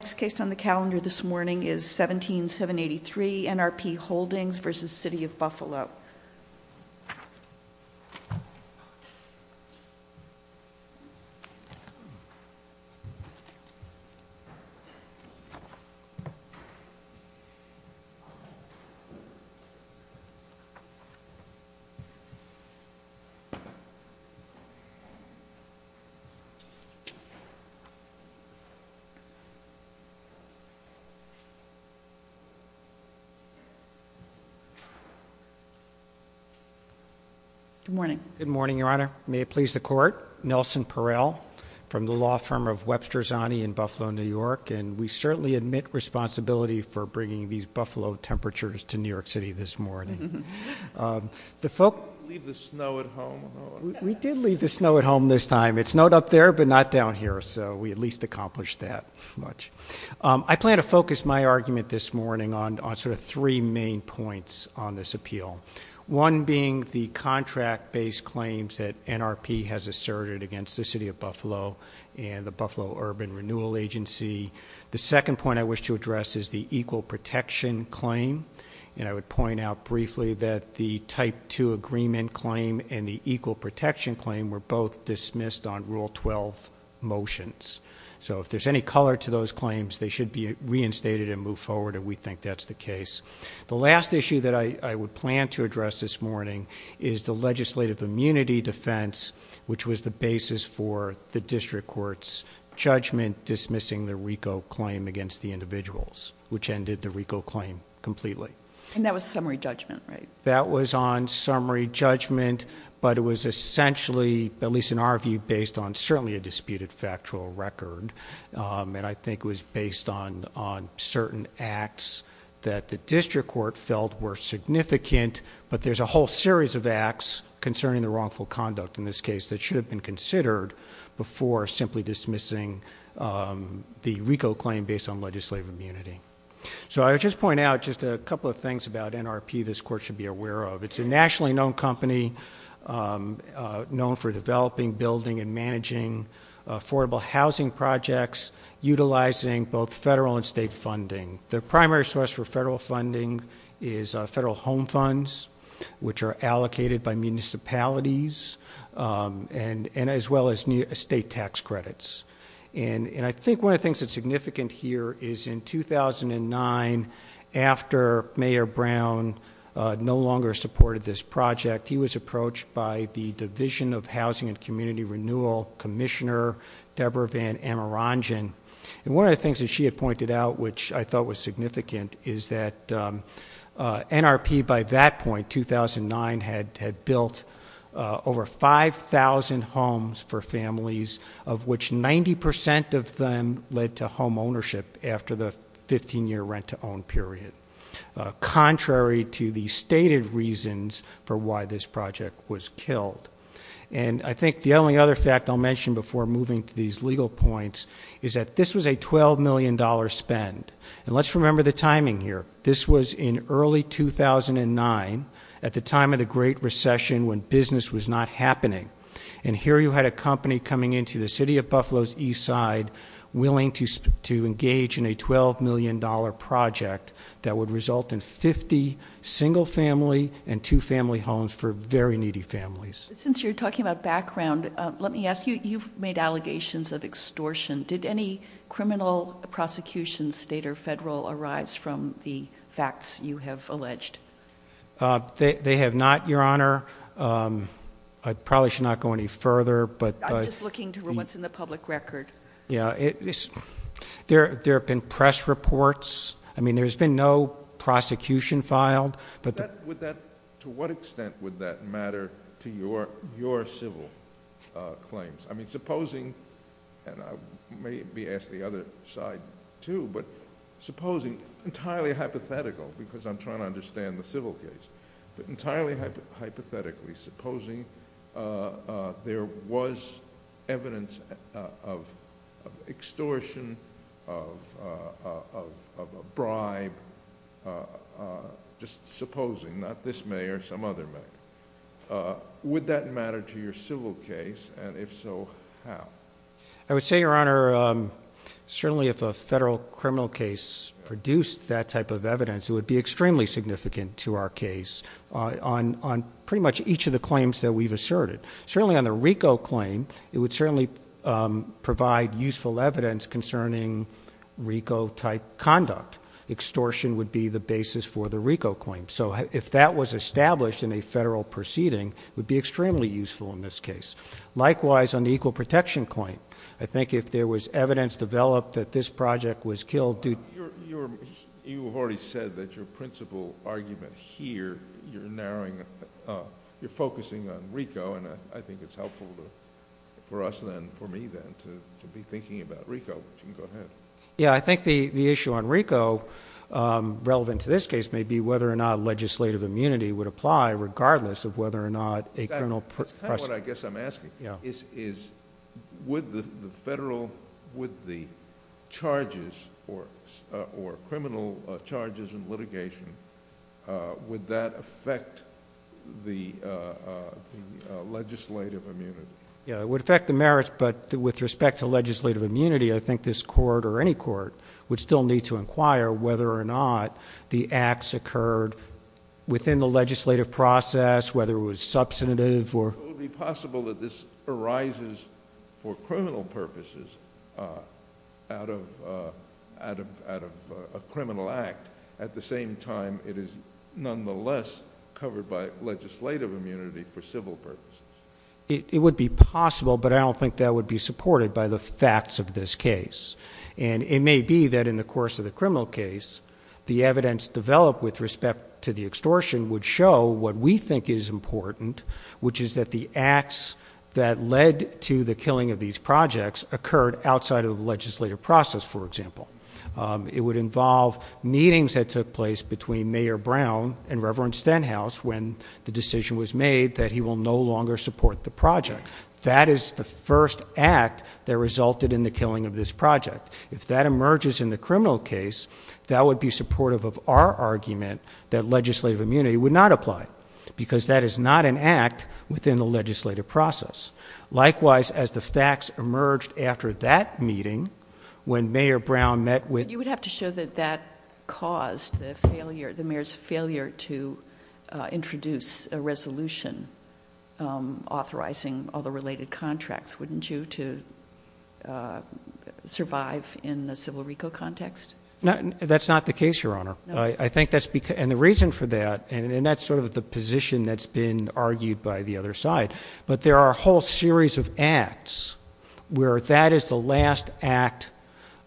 The next case on the calendar this morning is 17783 NRP Holdings v. City of Buffalo. Good morning, Your Honor. May it please the Court. Nelson Perel from the law firm of Webster Zani in Buffalo, New York, and we certainly admit responsibility for bringing these buffalo temperatures to New York City this morning. We did leave the snow at home this time. It snowed up there, but not down here, so we at least accomplished that much. I plan to focus my argument this morning on sort of three main points on this appeal, one being the contract-based claims that NRP has asserted against the City of Buffalo and the Buffalo Urban Renewal Agency. The second point I wish to address is the equal protection claim, and I would point out briefly that the Type 2 agreement claim and the equal protection claim were both dismissed on Rule 12 motions. So if there's any color to those claims, they should be reinstated and moved forward, and we think that's the case. The last issue that I would plan to address this morning is the legislative immunity defense, which was the basis for the district court's judgment dismissing the RICO claim against the individuals, which ended the RICO claim completely. And that was summary judgment, right? That was on summary judgment, but it was essentially, at least in our view, based on certainly a disputed factual record, and I think it was based on certain acts that the district court felt were significant, but there's a whole series of acts concerning the wrongful conduct in this case that should have been considered before simply dismissing the RICO claim based on legislative immunity. So I would just point out just a couple of things about NRP this court should be aware of. It's a nationally known company known for developing, building, and managing affordable housing projects, utilizing both federal and state funding. The primary source for federal funding is federal home funds, which are allocated by municipalities, and as well as state tax credits. And I think one of the things that's significant here is in 2009, after Mayor Brown no longer supported this project, he was approached by the Division of Housing and Community Renewal Commissioner, Deborah Van Amarangen. And one of the things that she had pointed out, which I thought was significant, is that NRP by that point, 2009, had built over 5,000 homes for families, of which 90% of them led to home ownership after the 15-year rent-to-own period, contrary to the stated reasons for why this project was killed. And I think the only other fact I'll mention before moving to these legal points is that this was a $12 million spend. And let's remember the timing here. This was in early 2009, at the time of the Great Recession, when business was not happening. And here you had a company coming into the city of Buffalo's east side, willing to engage in a $12 million project that would result in 50 single family and two family homes for very needy families. Since you're talking about background, let me ask you, you've made allegations of extortion. Did any criminal prosecution, state or federal, arise from the facts you have alleged? They have not, Your Honor. I probably should not go any further. I'm just looking to what's in the public record. Yeah. There have been press reports. I mean, there's been no prosecution filed. To what extent would that matter to your civil claims? I mean, supposing, and I may be asked the other side too, but supposing, entirely hypothetical, because I'm trying to understand the civil case, but entirely hypothetically supposing there was evidence of extortion, of a bribe, just supposing, not this mayor, some other mayor. Would that matter to your civil case, and if so, how? I would say, Your Honor, certainly if a federal criminal case produced that type of evidence, it would be extremely significant to our case on pretty much each of the claims that we've asserted. Certainly on the RICO claim, it would certainly provide useful evidence concerning RICO-type conduct. Extortion would be the basis for the RICO claim. So if that was established in a federal proceeding, it would be extremely useful in this case. Likewise, on the equal protection claim. I think if there was evidence developed that this project was killed due to- You've already said that your principal argument here, you're narrowing, you're focusing on RICO, and I think it's helpful for us then, for me then, to be thinking about RICO. You can go ahead. Yeah, I think the issue on RICO, relevant to this case, may be whether or not legislative immunity would apply, regardless of whether or not a criminal precedent- That's kind of what I guess I'm asking. Yeah. Would the charges or criminal charges in litigation, would that affect the legislative immunity? Yeah, it would affect the merits, but with respect to legislative immunity, I think this court or any court would still need to inquire whether or not the acts occurred within the legislative process, whether it was substantive or- It would be possible that this arises for criminal purposes out of a criminal act, at the same time it is nonetheless covered by legislative immunity for civil purposes. It would be possible, but I don't think that would be supported by the facts of this case. And it may be that in the course of the criminal case, the evidence developed with respect to the extortion would show what we think is important, which is that the acts that led to the killing of these projects occurred outside of the legislative process, for example. It would involve meetings that took place between Mayor Brown and Reverend Stenhouse when the decision was made that he will no longer support the project. That is the first act that resulted in the killing of this project. If that emerges in the criminal case, that would be supportive of our argument that legislative immunity would not apply, because that is not an act within the legislative process. Likewise, as the facts emerged after that meeting, when Mayor Brown met with- introduce a resolution authorizing all the related contracts, wouldn't you, to survive in the civil RICO context? That's not the case, Your Honor. I think that's because- and the reason for that, and that's sort of the position that's been argued by the other side, but there are a whole series of acts where that is the last act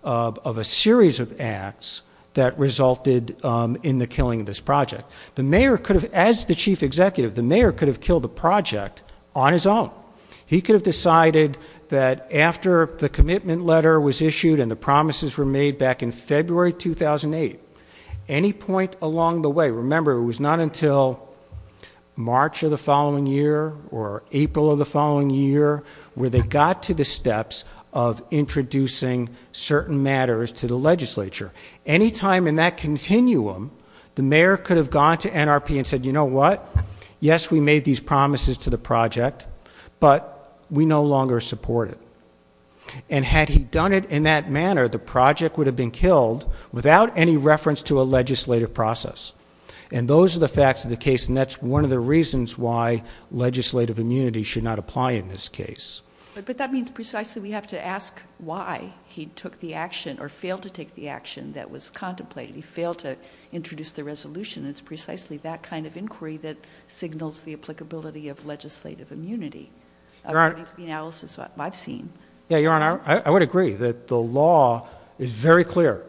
of a series of acts that resulted in the killing of this project. The mayor could have- as the chief executive, the mayor could have killed the project on his own. He could have decided that after the commitment letter was issued and the promises were made back in February 2008, any point along the way- remember, it was not until March of the following year or April of the following year where they got to the steps of introducing certain matters to the legislature. Any time in that continuum, the mayor could have gone to NRP and said, you know what? Yes, we made these promises to the project, but we no longer support it. And had he done it in that manner, the project would have been killed without any reference to a legislative process. And those are the facts of the case, and that's one of the reasons why legislative immunity should not apply in this case. But that means precisely we have to ask why he took the action or failed to take the action that was contemplated. He failed to introduce the resolution. It's precisely that kind of inquiry that signals the applicability of legislative immunity according to the analysis I've seen. Your Honor, I would agree that the law is very clear.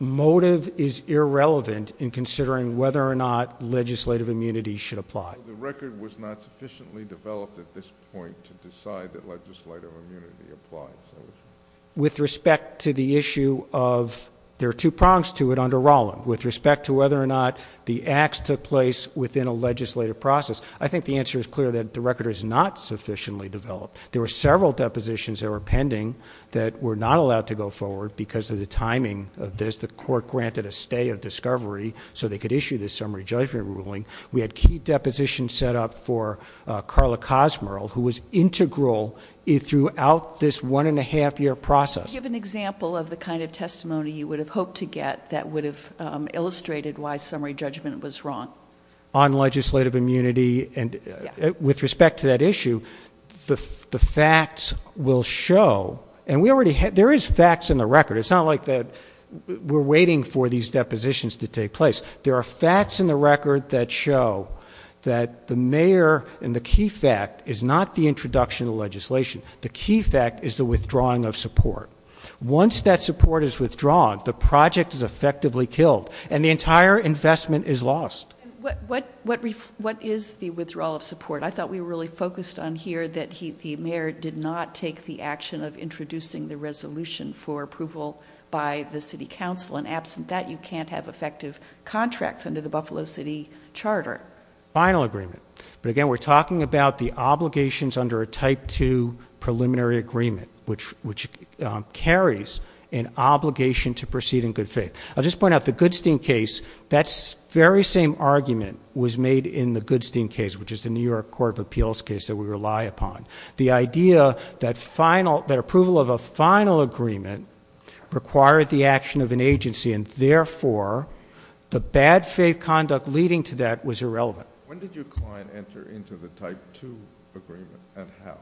Motive is irrelevant in considering whether or not legislative immunity should apply. The record was not sufficiently developed at this point to decide that legislative immunity applies. With respect to the issue of- there are two prongs to it under Rollin. With respect to whether or not the acts took place within a legislative process, I think the answer is clear that the record is not sufficiently developed. There were several depositions that were pending that were not allowed to go forward because of the timing of this. The court granted a stay of discovery so they could issue this summary judgment ruling. We had key depositions set up for Carla Kosmerl, who was integral throughout this one and a half year process. Can you give an example of the kind of testimony you would have hoped to get that would have illustrated why summary judgment was wrong? On legislative immunity and with respect to that issue, the facts will show. And we already had- there is facts in the record. It's not like that we're waiting for these depositions to take place. There are facts in the record that show that the mayor and the key fact is not the introduction of legislation. The key fact is the withdrawing of support. Once that support is withdrawn, the project is effectively killed and the entire investment is lost. What is the withdrawal of support? I thought we really focused on here that the mayor did not take the action of introducing the resolution for approval by the city council. And absent that, you can't have effective contracts under the Buffalo City Charter. Final agreement. But again, we're talking about the obligations under a type two preliminary agreement, which carries an obligation to proceed in good faith. I'll just point out the Goodstein case. That very same argument was made in the Goodstein case, which is the New York Court of Appeals case that we rely upon. The idea that approval of a final agreement required the action of an agency, and therefore the bad faith conduct leading to that was irrelevant. When did your client enter into the type two agreement and how?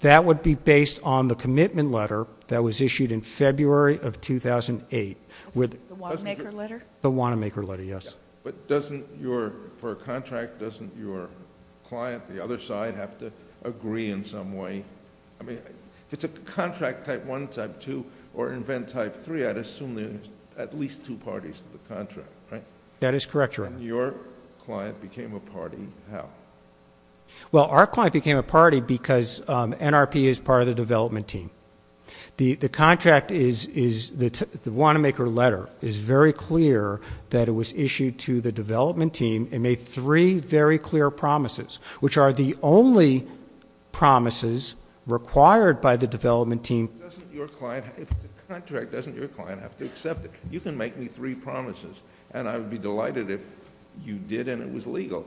That would be based on the commitment letter that was issued in February of 2008. The Wanamaker letter? The Wanamaker letter, yes. But doesn't your, for a contract, doesn't your client, the other side, have to agree in some way? I mean, if it's a contract type one, type two, or an event type three, I'd assume there's at least two parties to the contract, right? That is correct, Your Honor. When your client became a party, how? Well, our client became a party because NRP is part of the development team. The contract is, the Wanamaker letter is very clear that it was issued to the development team and made three very clear promises, which are the only promises required by the development team. Doesn't your client, if it's a contract, doesn't your client have to accept it? You can make me three promises, and I would be delighted if you did and it was legal.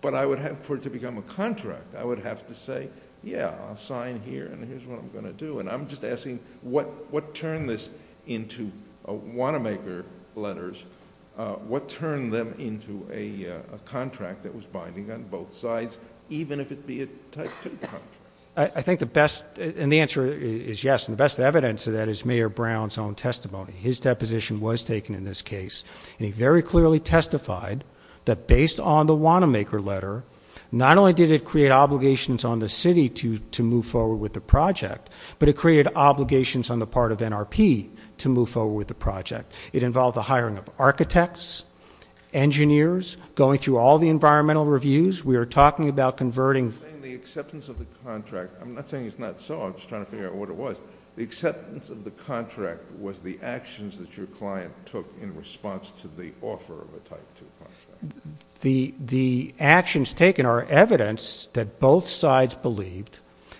But I would have, for it to become a contract, I would have to say, yeah, I'll sign here, and here's what I'm going to do. And I'm just asking, what turned this into Wanamaker letters? What turned them into a contract that was binding on both sides, even if it be a type two contract? I think the best, and the answer is yes, and the best evidence of that is Mayor Brown's own testimony. His deposition was taken in this case, and he very clearly testified that based on the Wanamaker letter, not only did it create obligations on the city to move forward with the project, but it created obligations on the part of NRP to move forward with the project. It involved the hiring of architects, engineers, going through all the environmental reviews. We are talking about converting. You're saying the acceptance of the contract, I'm not saying it's not so. I'm just trying to figure out what it was. The acceptance of the contract was the actions that your client took in response to the offer of a type two contract. The actions taken are evidence that both sides believed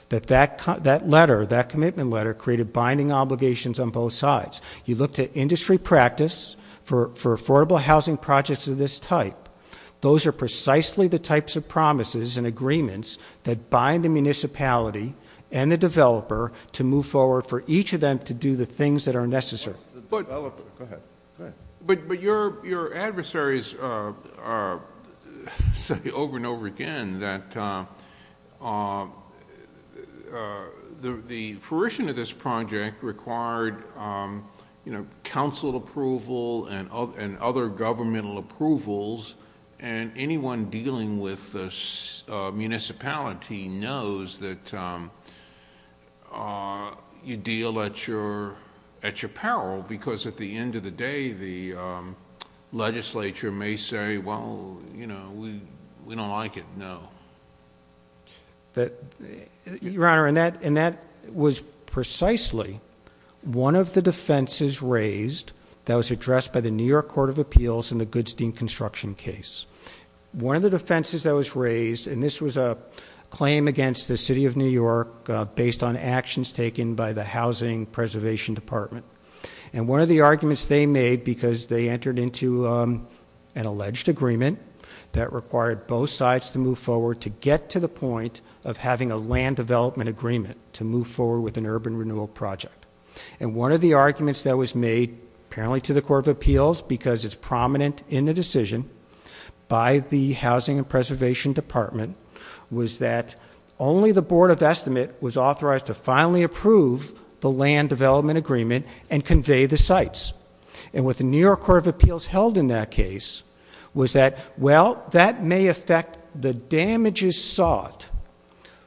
that that letter, that commitment letter, created binding obligations on both sides. You looked at industry practice for affordable housing projects of this type. Those are precisely the types of promises and agreements that bind the municipality and the developer to move forward for each of them to do the things that are necessary. But your adversaries say over and over again that the fruition of this project required council approval and other governmental approvals, and anyone dealing with the municipality knows that you deal at your peril because at the end of the day, the legislature may say, well, we don't like it. No. Your Honor, and that was precisely one of the defenses raised that was addressed by the New York Court of Appeals in the Goodstein construction case. One of the defenses that was raised, and this was a claim against the City of New York based on actions taken by the Housing Preservation Department, and one of the arguments they made because they entered into an alleged agreement that required both sides to move forward to get to the point of having a land development agreement to move forward with an urban renewal project. And one of the arguments that was made apparently to the Court of Appeals because it's prominent in the decision by the Housing and Preservation Department was that only the Board of Estimate was authorized to finally approve the land development agreement and convey the sites. And what the New York Court of Appeals held in that case was that, well, that may affect the damages sought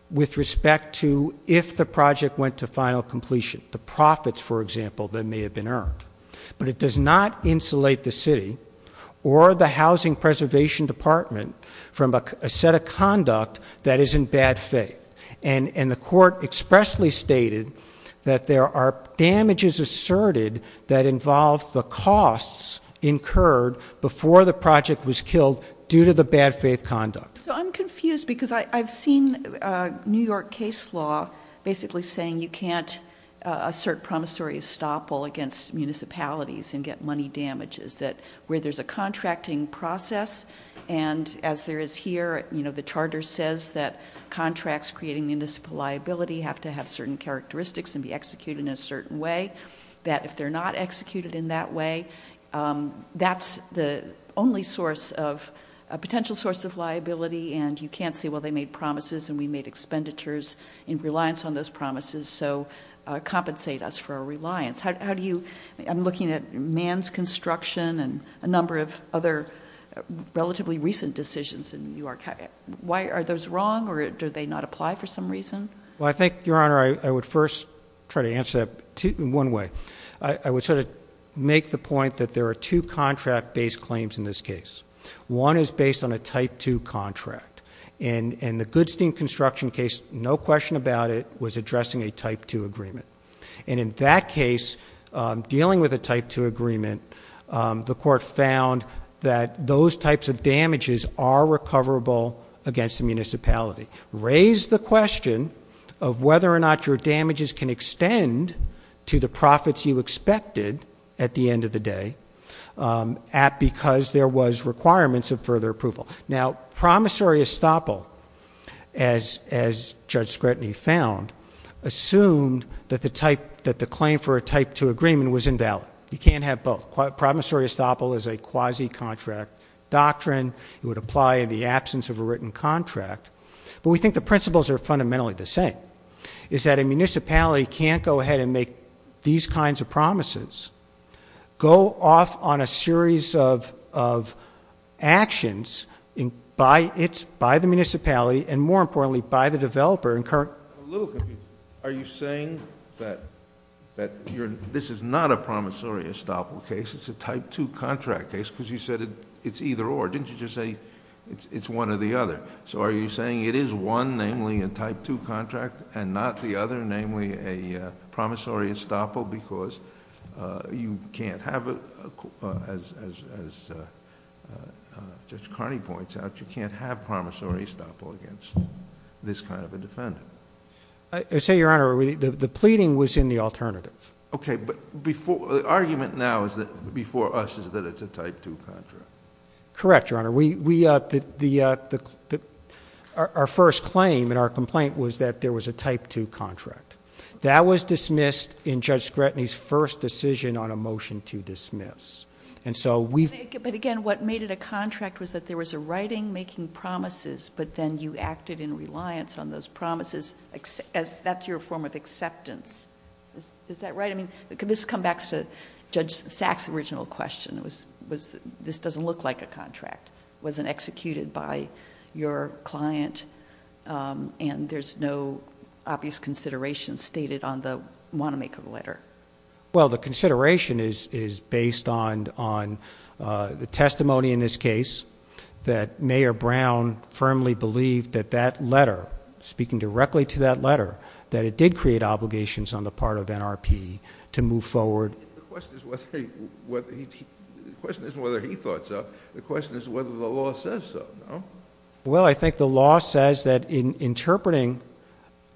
with respect to if the project went to final completion, the profits, for example, that may have been earned. But it does not insulate the city or the Housing Preservation Department from a set of conduct that is in bad faith. And the Court expressly stated that there are damages asserted that involve the costs incurred before the project was killed due to the bad faith conduct. So I'm confused because I've seen New York case law basically saying you can't assert promissory estoppel against municipalities and get money damages. Where there's a contracting process, and as there is here, the charter says that contracts creating municipal liability have to have certain characteristics and be executed in a certain way, that if they're not executed in that way, that's the only source of a potential source of liability. And you can't say, well, they made promises and we made expenditures in reliance on those promises, so compensate us for our reliance. I'm looking at Mann's construction and a number of other relatively recent decisions in New York. Why are those wrong or do they not apply for some reason? Well, I think, Your Honor, I would first try to answer that in one way. I would sort of make the point that there are two contract-based claims in this case. One is based on a Type 2 contract. In the Goodstein construction case, no question about it, was addressing a Type 2 agreement. And in that case, dealing with a Type 2 agreement, the court found that those types of damages are recoverable against the municipality. Raise the question of whether or not your damages can extend to the profits you expected at the end of the day because there was requirements of further approval. Now, promissory estoppel, as Judge Scrutiny found, assumed that the claim for a Type 2 agreement was invalid. You can't have both. Promissory estoppel is a quasi-contract doctrine. It would apply in the absence of a written contract. But we think the principles are fundamentally the same, is that a municipality can't go ahead and make these kinds of promises, go off on a series of actions by the municipality and, more importantly, by the developer. I'm a little confused. Are you saying that this is not a promissory estoppel case? It's a Type 2 contract case because you said it's either or. Didn't you just say it's one or the other? Are you saying it is one, namely a Type 2 contract, and not the other, namely a promissory estoppel because you can't have, as Judge Carney points out, you can't have promissory estoppel against this kind of a defendant? I would say, Your Honor, the pleading was in the alternative. Okay, but the argument now before us is that it's a Type 2 contract. Correct, Your Honor. Our first claim in our complaint was that there was a Type 2 contract. That was dismissed in Judge Scrutiny's first decision on a motion to dismiss. But, again, what made it a contract was that there was a writing making promises, but then you acted in reliance on those promises. That's your form of acceptance. Is that right? I mean, this comes back to Judge Sachs' original question. This doesn't look like a contract. It wasn't executed by your client, and there's no obvious consideration stated on the want-to-make-a-letter. Well, the consideration is based on the testimony in this case that Mayor Brown firmly believed that that letter, speaking directly to that letter, that it did create obligations on the part of NRP to move forward. The question isn't whether he thought so. The question is whether the law says so. Well, I think the law says that in interpreting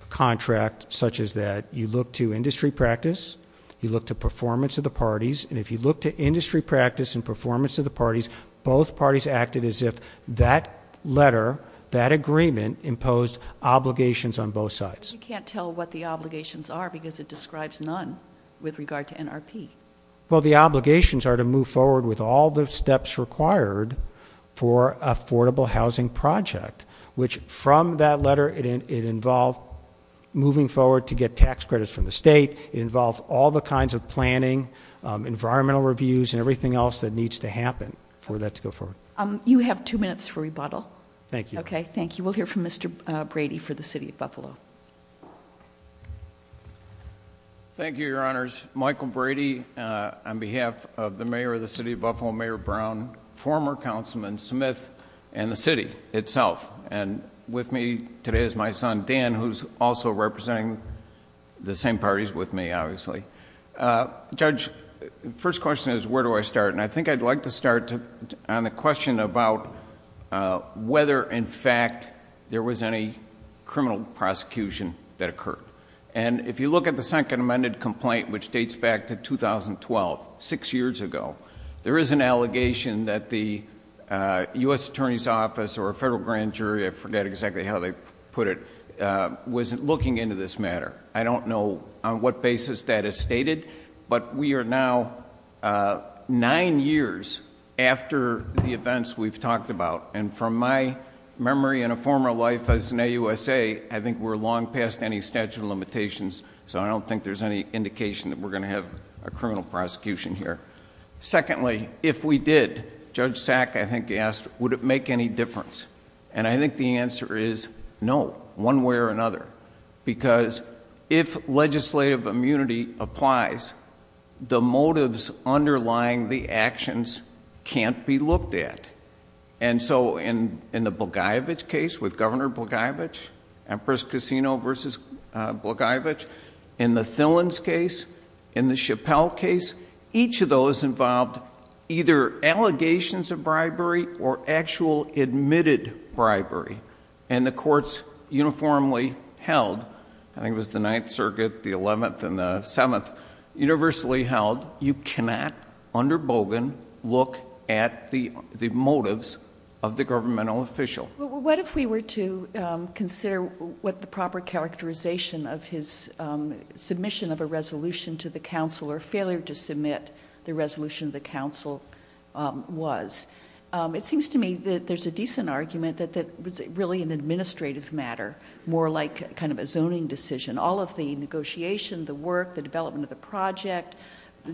a contract such as that, you look to industry practice, you look to performance of the parties, and if you look to industry practice and performance of the parties, both parties acted as if that letter, that agreement, imposed obligations on both sides. You can't tell what the obligations are because it describes none with regard to NRP. Well, the obligations are to move forward with all the steps required for affordable housing project, which from that letter, it involved moving forward to get tax credits from the state. It involved all the kinds of planning, environmental reviews, and everything else that needs to happen for that to go forward. You have two minutes for rebuttal. Thank you. Okay, thank you. We'll hear from Mr. Brady for the City of Buffalo. Thank you, Your Honors. Michael Brady on behalf of the Mayor of the City of Buffalo, Mayor Brown, former Councilman Smith, and the city itself. And with me today is my son, Dan, who's also representing the same parties with me, obviously. Judge, the first question is where do I start? And I think I'd like to start on the question about whether, in fact, there was any criminal prosecution that occurred. And if you look at the second amended complaint, which dates back to 2012, six years ago, there is an allegation that the U.S. Attorney's Office or a federal grand jury, I forget exactly how they put it, was looking into this matter. I don't know on what basis that is stated, but we are now nine years after the events we've talked about. And from my memory in a former life as an AUSA, I think we're long past any statute of limitations, so I don't think there's any indication that we're going to have a criminal prosecution here. Secondly, if we did, Judge Sack, I think, asked, would it make any difference? And I think the answer is no, one way or another. Because if legislative immunity applies, the motives underlying the actions can't be looked at. And so in the Blagojevich case with Governor Blagojevich, Empress Casino v. Blagojevich, in the Thillen's case, in the Chappelle case, each of those involved either allegations of bribery or actual admitted bribery, and the courts uniformly held, I think it was the Ninth Circuit, the Eleventh, and the Seventh, universally held, you cannot, under Bogan, look at the motives of the governmental official. What if we were to consider what the proper characterization of his submission of a resolution to the council or failure to submit the resolution to the council was? It seems to me that there's a decent argument that it was really an administrative matter, more like kind of a zoning decision. All of the negotiation, the work, the development of the project,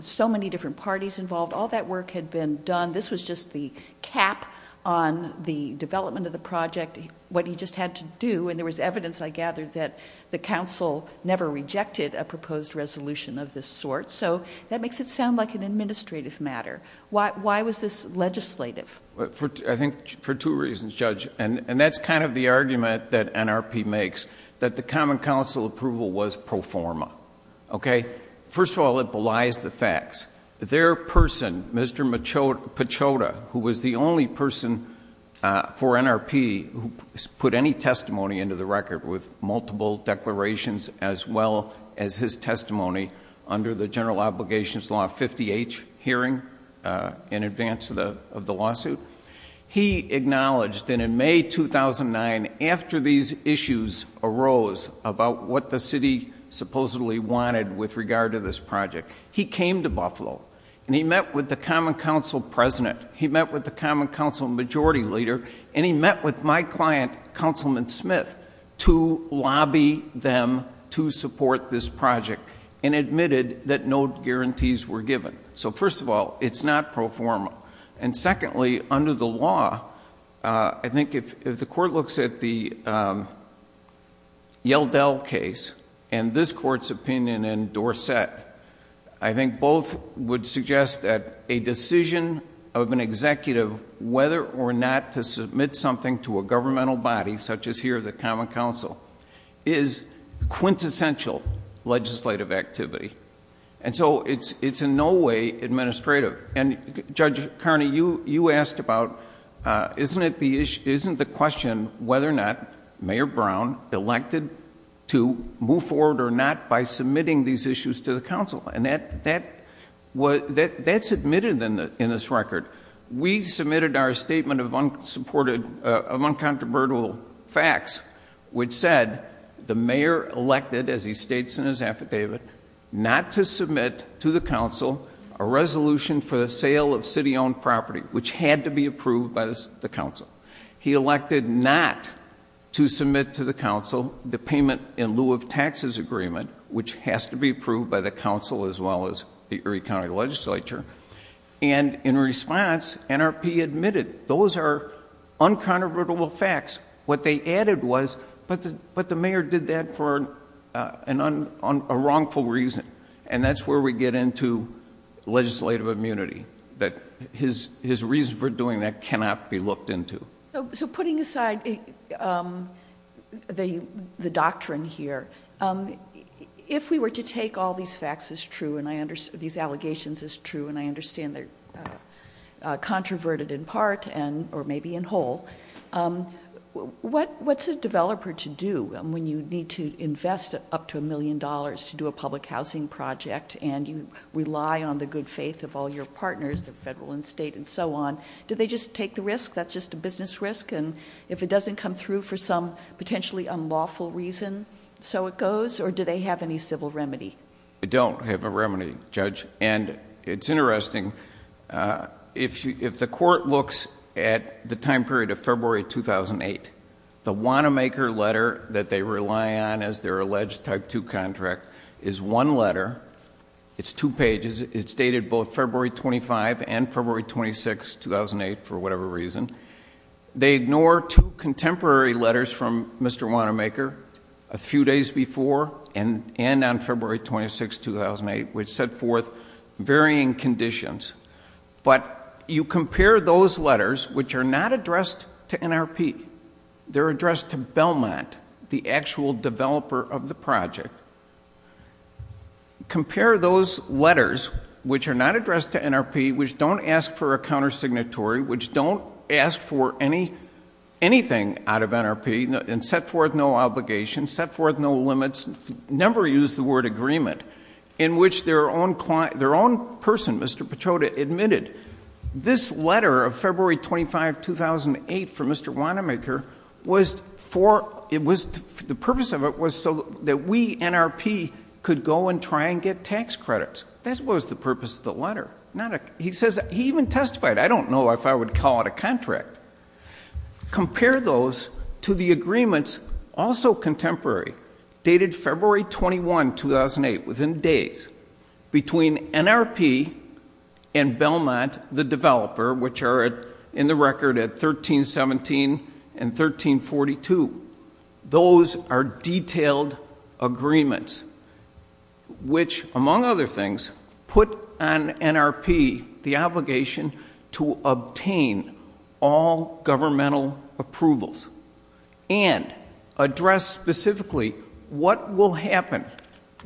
so many different parties involved, all that work had been done. This was just the cap on the development of the project, what he just had to do, and there was evidence, I gathered, that the council never rejected a proposed resolution of this sort. So that makes it sound like an administrative matter. Why was this legislative? I think for two reasons, Judge, and that's kind of the argument that NRP makes, that the common council approval was pro forma. Okay? First of all, it belies the facts. Their person, Mr. Pachoda, who was the only person for NRP who put any testimony into the record with multiple declarations as well as his testimony under the General Obligations Law 50H hearing in advance of the lawsuit, he acknowledged that in May 2009, after these issues arose about what the city supposedly wanted with regard to this project, he came to Buffalo and he met with the common council president, he met with the common council majority leader, and he met with my client, Councilman Smith, to lobby them to support this project and admitted that no guarantees were given. So first of all, it's not pro forma. And secondly, under the law, I think if the court looks at the Yeldell case and this court's opinion in Dorset, I think both would suggest that a decision of an executive whether or not to submit something to a governmental body, such as here the common council, is quintessential legislative activity. And so it's in no way administrative. And Judge Carney, you asked about, isn't the question whether or not Mayor Brown elected to move forward or not by submitting these issues to the council? And that's admitted in this record. We submitted our statement of uncontroversial facts, which said the mayor elected, as he states in his affidavit, not to submit to the council a resolution for the sale of city-owned property, which had to be approved by the council. He elected not to submit to the council the payment in lieu of taxes agreement, which has to be approved by the council as well as the Erie County Legislature. And in response, NRP admitted those are uncontroversial facts. What they added was, but the mayor did that for a wrongful reason. And that's where we get into legislative immunity, that his reason for doing that cannot be looked into. So putting aside the doctrine here, if we were to take all these facts as true and these allegations as true, and I understand they're controverted in part or maybe in whole, what's a developer to do when you need to invest up to a million dollars to do a public housing project and you rely on the good faith of all your partners, the federal and state and so on? Do they just take the risk, that's just a business risk, and if it doesn't come through for some potentially unlawful reason, so it goes? Or do they have any civil remedy? They don't have a remedy, Judge. And it's interesting, if the court looks at the time period of February 2008, the Wanamaker letter that they rely on as their alleged type 2 contract is one letter. It's two pages. It's dated both February 25 and February 26, 2008, for whatever reason. They ignore two contemporary letters from Mr. Wanamaker, a few days before and on February 26, 2008, which set forth varying conditions. But you compare those letters, which are not addressed to NRP. They're addressed to Belmont, the actual developer of the project. Compare those letters, which are not addressed to NRP, which don't ask for a countersignatory, which don't ask for anything out of NRP and set forth no obligations, set forth no limits, never use the word agreement, in which their own person, Mr. Petroda, admitted, this letter of February 25, 2008, from Mr. Wanamaker, the purpose of it was so that we, NRP, could go and try and get tax credits. That was the purpose of the letter. He even testified, I don't know if I would call it a contract. Compare those to the agreements, also contemporary, dated February 21, 2008, within days, between NRP and Belmont, the developer, which are in the record at 1317 and 1342. Those are detailed agreements, which, among other things, put on NRP the obligation to obtain all governmental approvals and address specifically what will happen,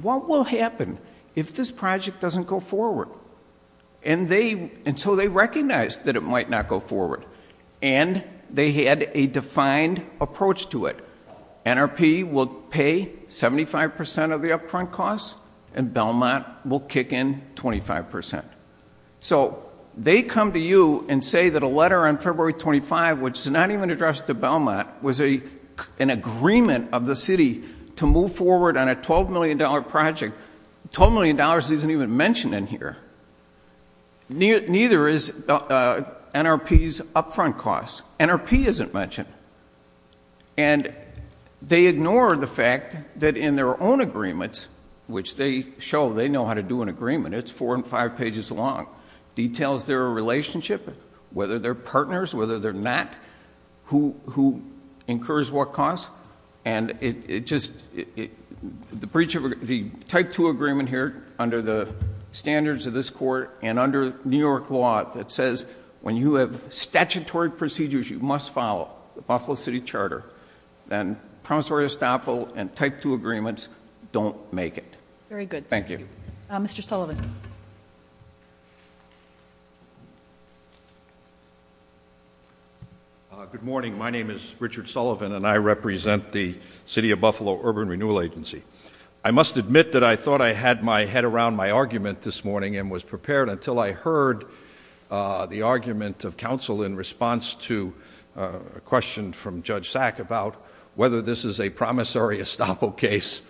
what will happen if this project doesn't go forward. And so they recognized that it might not go forward, and they had a defined approach to it. NRP will pay 75% of the upfront costs, and Belmont will kick in 25%. So they come to you and say that a letter on February 25, which is not even addressed to Belmont, was an agreement of the city to move forward on a $12 million project. $12 million isn't even mentioned in here. Neither is NRP's upfront costs. NRP isn't mentioned. And they ignore the fact that in their own agreements, which they show they know how to do an agreement, it's four and five pages long, details their relationship, whether they're partners, whether they're not, who incurs what costs. And it just, the breach of the Type 2 agreement here under the standards of this court and under New York law that says when you have statutory procedures you must follow, the Buffalo City Charter, then promissory estoppel and Type 2 agreements don't make it. Very good. Thank you. Mr. Sullivan. Good morning. My name is Richard Sullivan, and I represent the City of Buffalo Urban Renewal Agency. I must admit that I thought I had my head around my argument this morning and was prepared until I heard the argument of counsel in response to a question from Judge Sack about whether this is a promissory estoppel case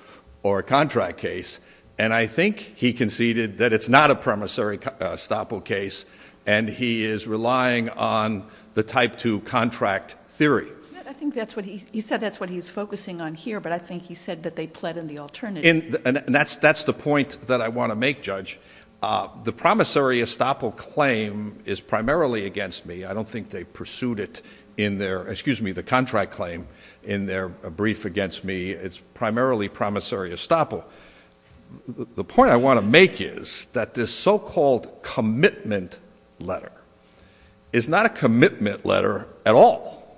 or a contract case. And I think he conceded that it's not a promissory estoppel case, and he is relying on the Type 2 contract theory. I think that's what he... he said that's what he's focusing on here, but I think he said that they pled in the alternative. And that's the point that I want to make, Judge. The promissory estoppel claim is primarily against me. I don't think they pursued it in their... excuse me, the contract claim in their brief against me. It's primarily promissory estoppel. The point I want to make is that this so-called commitment letter is not a commitment letter at all.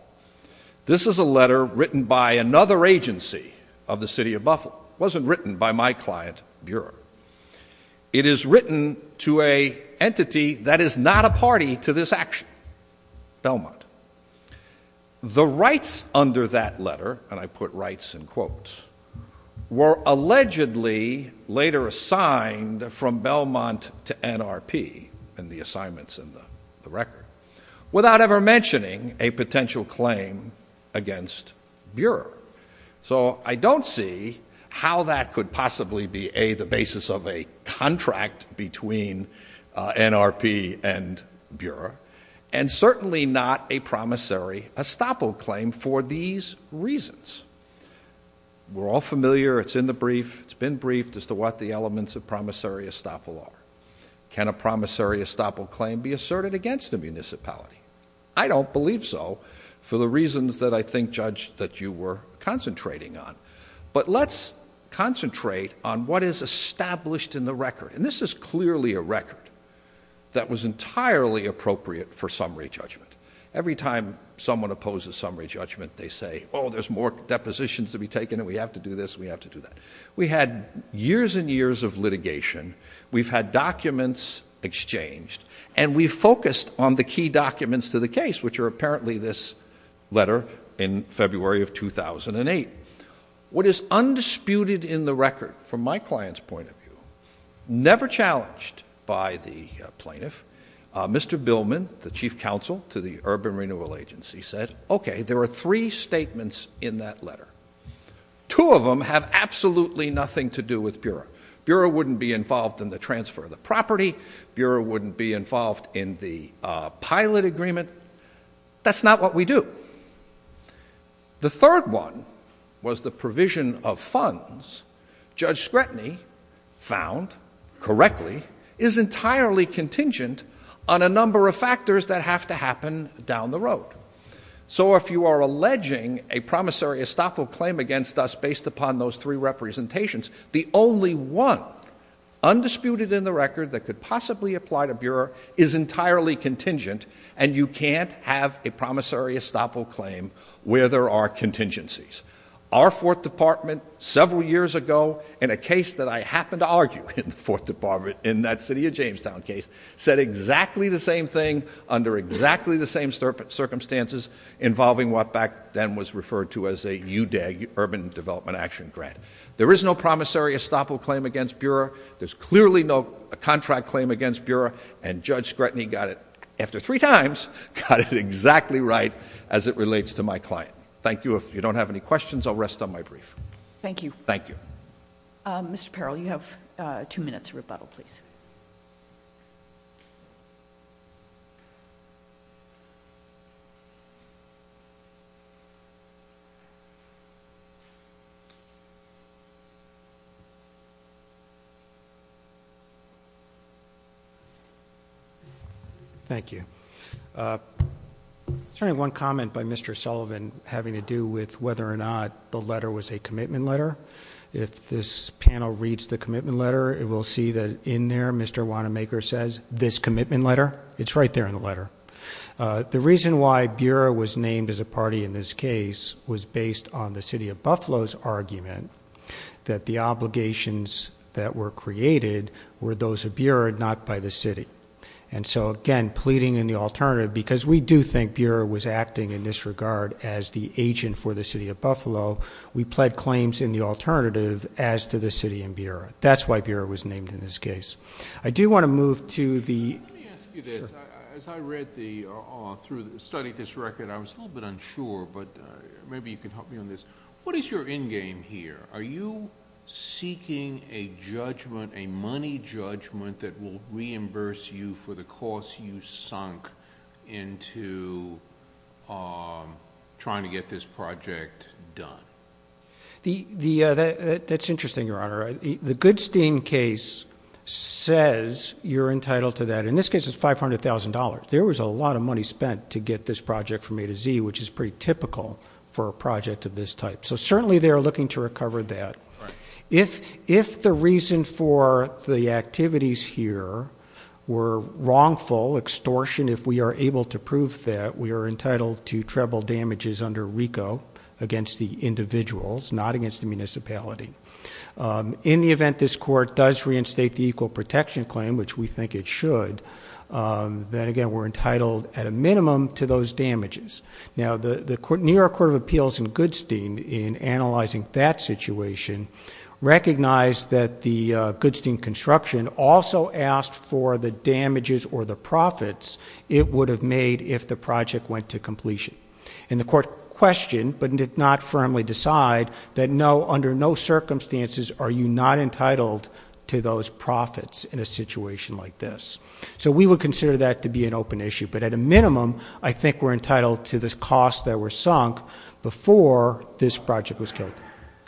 This is a letter written by another agency of the City of Buffalo. It wasn't written by my client, Bureau. It is written to an entity that is not a party to this action, Belmont. The rights under that letter, and I put rights in quotes, were allegedly later assigned from Belmont to NRP in the assignments in the record, without ever mentioning a potential claim against Bureau. So I don't see how that could possibly be, A, the basis of a contract between NRP and Bureau, and certainly not a promissory estoppel claim for these reasons. We're all familiar. It's in the brief. It's been briefed as to what the elements of promissory estoppel are. Can a promissory estoppel claim be asserted against a municipality? I don't believe so, for the reasons that I think, Judge, that you were concentrating on. But let's concentrate on what is established in the record, and this is clearly a record that was entirely appropriate for summary judgment. Every time someone opposes summary judgment, they say, oh, there's more depositions to be taken and we have to do this and we have to do that. We had years and years of litigation. We've had documents exchanged and we've focused on the key documents to the case, which are apparently this letter in February of 2008. What is undisputed in the record, from my client's point of view, never challenged by the plaintiff, Mr. Billman, the chief counsel to the Urban Renewal Agency, said, okay, there are three statements in that letter. Two of them have absolutely nothing to do with Bureau. Bureau wouldn't be involved in the transfer of the property. Bureau wouldn't be involved in the pilot agreement. That's not what we do. The third one was the provision of funds. Judge Scretany found correctly is entirely contingent on a number of factors that have to happen down the road. So if you are alleging a promissory estoppel claim against us based upon those three representations, the only one undisputed in the record that could possibly apply to Bureau is entirely contingent and you can't have a promissory estoppel claim where there are contingencies. Our fourth department, several years ago, in a case that I happened to argue in the fourth department, in that city of Jamestown case, said exactly the same thing under exactly the same circumstances involving what back then was referred to as a UDAG, Urban Development Action Grant. There is no promissory estoppel claim against Bureau. There's clearly no contract claim against Bureau. And Judge Scretany got it, after three times, got it exactly right as it relates to my client. Thank you. If you don't have any questions, I'll rest on my brief. Thank you. Thank you. Mr. Peril, you have two minutes rebuttal, please. Thank you. There's only one comment by Mr. Sullivan having to do with whether or not the letter was a commitment letter. If this panel reads the commitment letter, it will see that in there, Mr. Wanamaker says, this commitment letter, it's right there in the letter. The reason why Bureau was named as a party in this case was based on the city of Buffalo's argument that the obligations that were created were those of Bureau, not by the city. And so, again, pleading in the alternative, because we do think Bureau was acting in this regard as the agent for the city of Buffalo, we pled claims in the alternative as to the city and Bureau. That's why Bureau was named in this case. I do want to move to the – Let me ask you this. As I read through, studied this record, I was a little bit unsure, but maybe you can help me on this. What is your end game here? Are you seeking a judgment, a money judgment, that will reimburse you for the cost you sunk into trying to get this project done? That's interesting, Your Honor. The Goodstein case says you're entitled to that. In this case, it's $500,000. There was a lot of money spent to get this project from A to Z, which is pretty typical for a project of this type. So certainly they are looking to recover that. If the reason for the activities here were wrongful extortion, if we are able to prove that we are entitled to treble damages under RICO against the individuals, not against the municipality, in the event this court does reinstate the equal protection claim, which we think it should, then, again, we're entitled at a minimum to those damages. Now, the New York Court of Appeals in Goodstein, in analyzing that situation, recognized that the Goodstein construction also asked for the damages or the profits it would have made if the project went to completion. And the court questioned, but did not firmly decide, that under no circumstances are you not entitled to those profits in a situation like this. So we would consider that to be an open issue. But at a minimum, I think we're entitled to the costs that were sunk before this project was killed.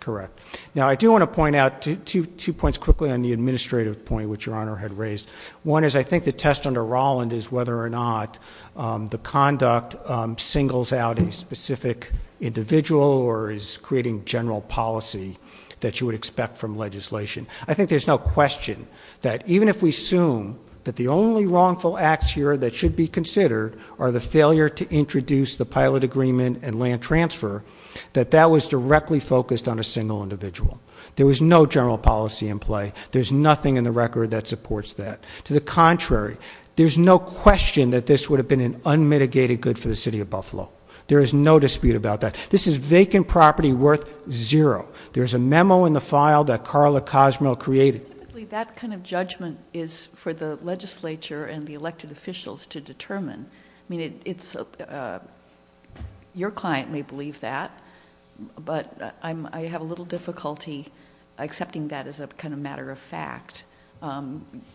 Correct. Now, I do want to point out two points quickly on the administrative point which Your Honor had raised. One is I think the test under Rolland is whether or not the conduct singles out a specific individual or is creating general policy that you would expect from legislation. I think there's no question that even if we assume that the only wrongful acts here that should be considered are the failure to introduce the pilot agreement and land transfer, that that was directly focused on a single individual. There was no general policy in play. There's nothing in the record that supports that. To the contrary, there's no question that this would have been an unmitigated good for the city of Buffalo. There is no dispute about that. This is vacant property worth zero. There's a memo in the file that Carla Cosmo created. Typically, that kind of judgment is for the legislature and the elected officials to determine. I mean, your client may believe that, but I have a little difficulty accepting that as a kind of matter of fact.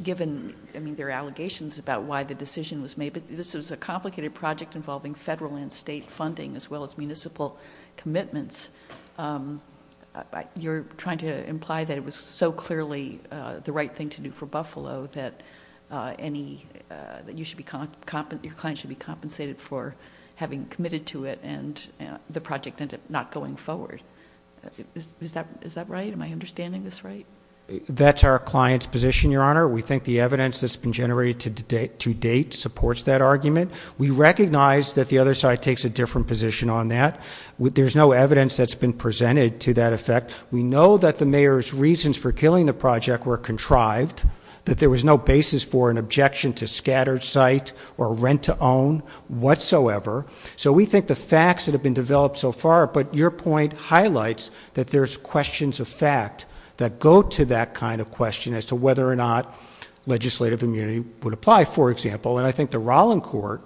Given, I mean, there are allegations about why the decision was made, but this is a complicated project involving federal and state funding, as well as municipal commitments. You're trying to imply that it was so clearly the right thing to do for Buffalo that your client should be compensated for having committed to it and the project ended up not going forward. Is that right? Am I understanding this right? That's our client's position, Your Honor. We think the evidence that's been generated to date supports that argument. We recognize that the other side takes a different position on that. There's no evidence that's been presented to that effect. We know that the mayor's reasons for killing the project were contrived, that there was no basis for an objection to scattered site or rent to own whatsoever. So we think the facts that have been developed so far, but your point highlights that there's questions of fact that go to that kind of question as to whether or not legislative immunity would apply, for example. And I think the Rollin Court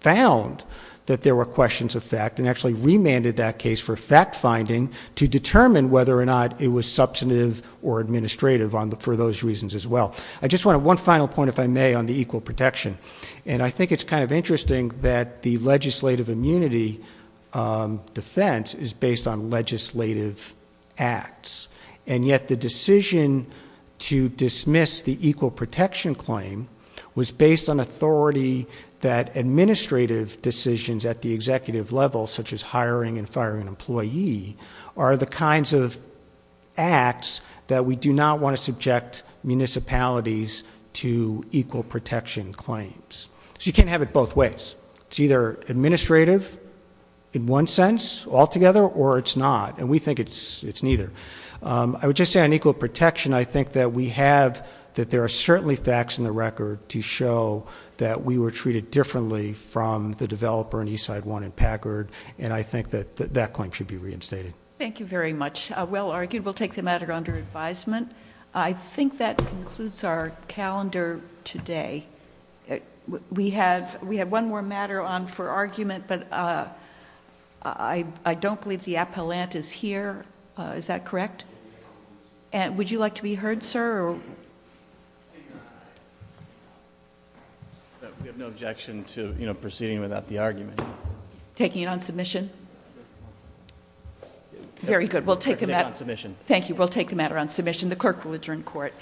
found that there were questions of fact and actually remanded that case for fact-finding to determine whether or not it was substantive or administrative for those reasons as well. I just want one final point, if I may, on the equal protection. And I think it's kind of interesting that the legislative immunity defense is based on legislative acts, and yet the decision to dismiss the equal protection claim was based on authority that administrative decisions at the executive level, such as hiring and firing an employee, are the kinds of acts that we do not want to subject municipalities to equal protection claims. So you can't have it both ways. It's either administrative in one sense altogether, or it's not, and we think it's neither. I would just say on equal protection, I think that we have that there are certainly facts in the record to show that we were treated differently from the developer in Eastside 1 in Packard, and I think that that claim should be reinstated. Thank you very much. Well argued. We'll take the matter under advisement. I think that concludes our calendar today. We have one more matter on for argument, but I don't believe the appellant is here. Is that correct? Would you like to be heard, sir? We have no objection to proceeding without the argument. Taking it on submission? Very good. We'll take the matter on submission. Thank you. We'll take the matter on submission. The clerk will adjourn court.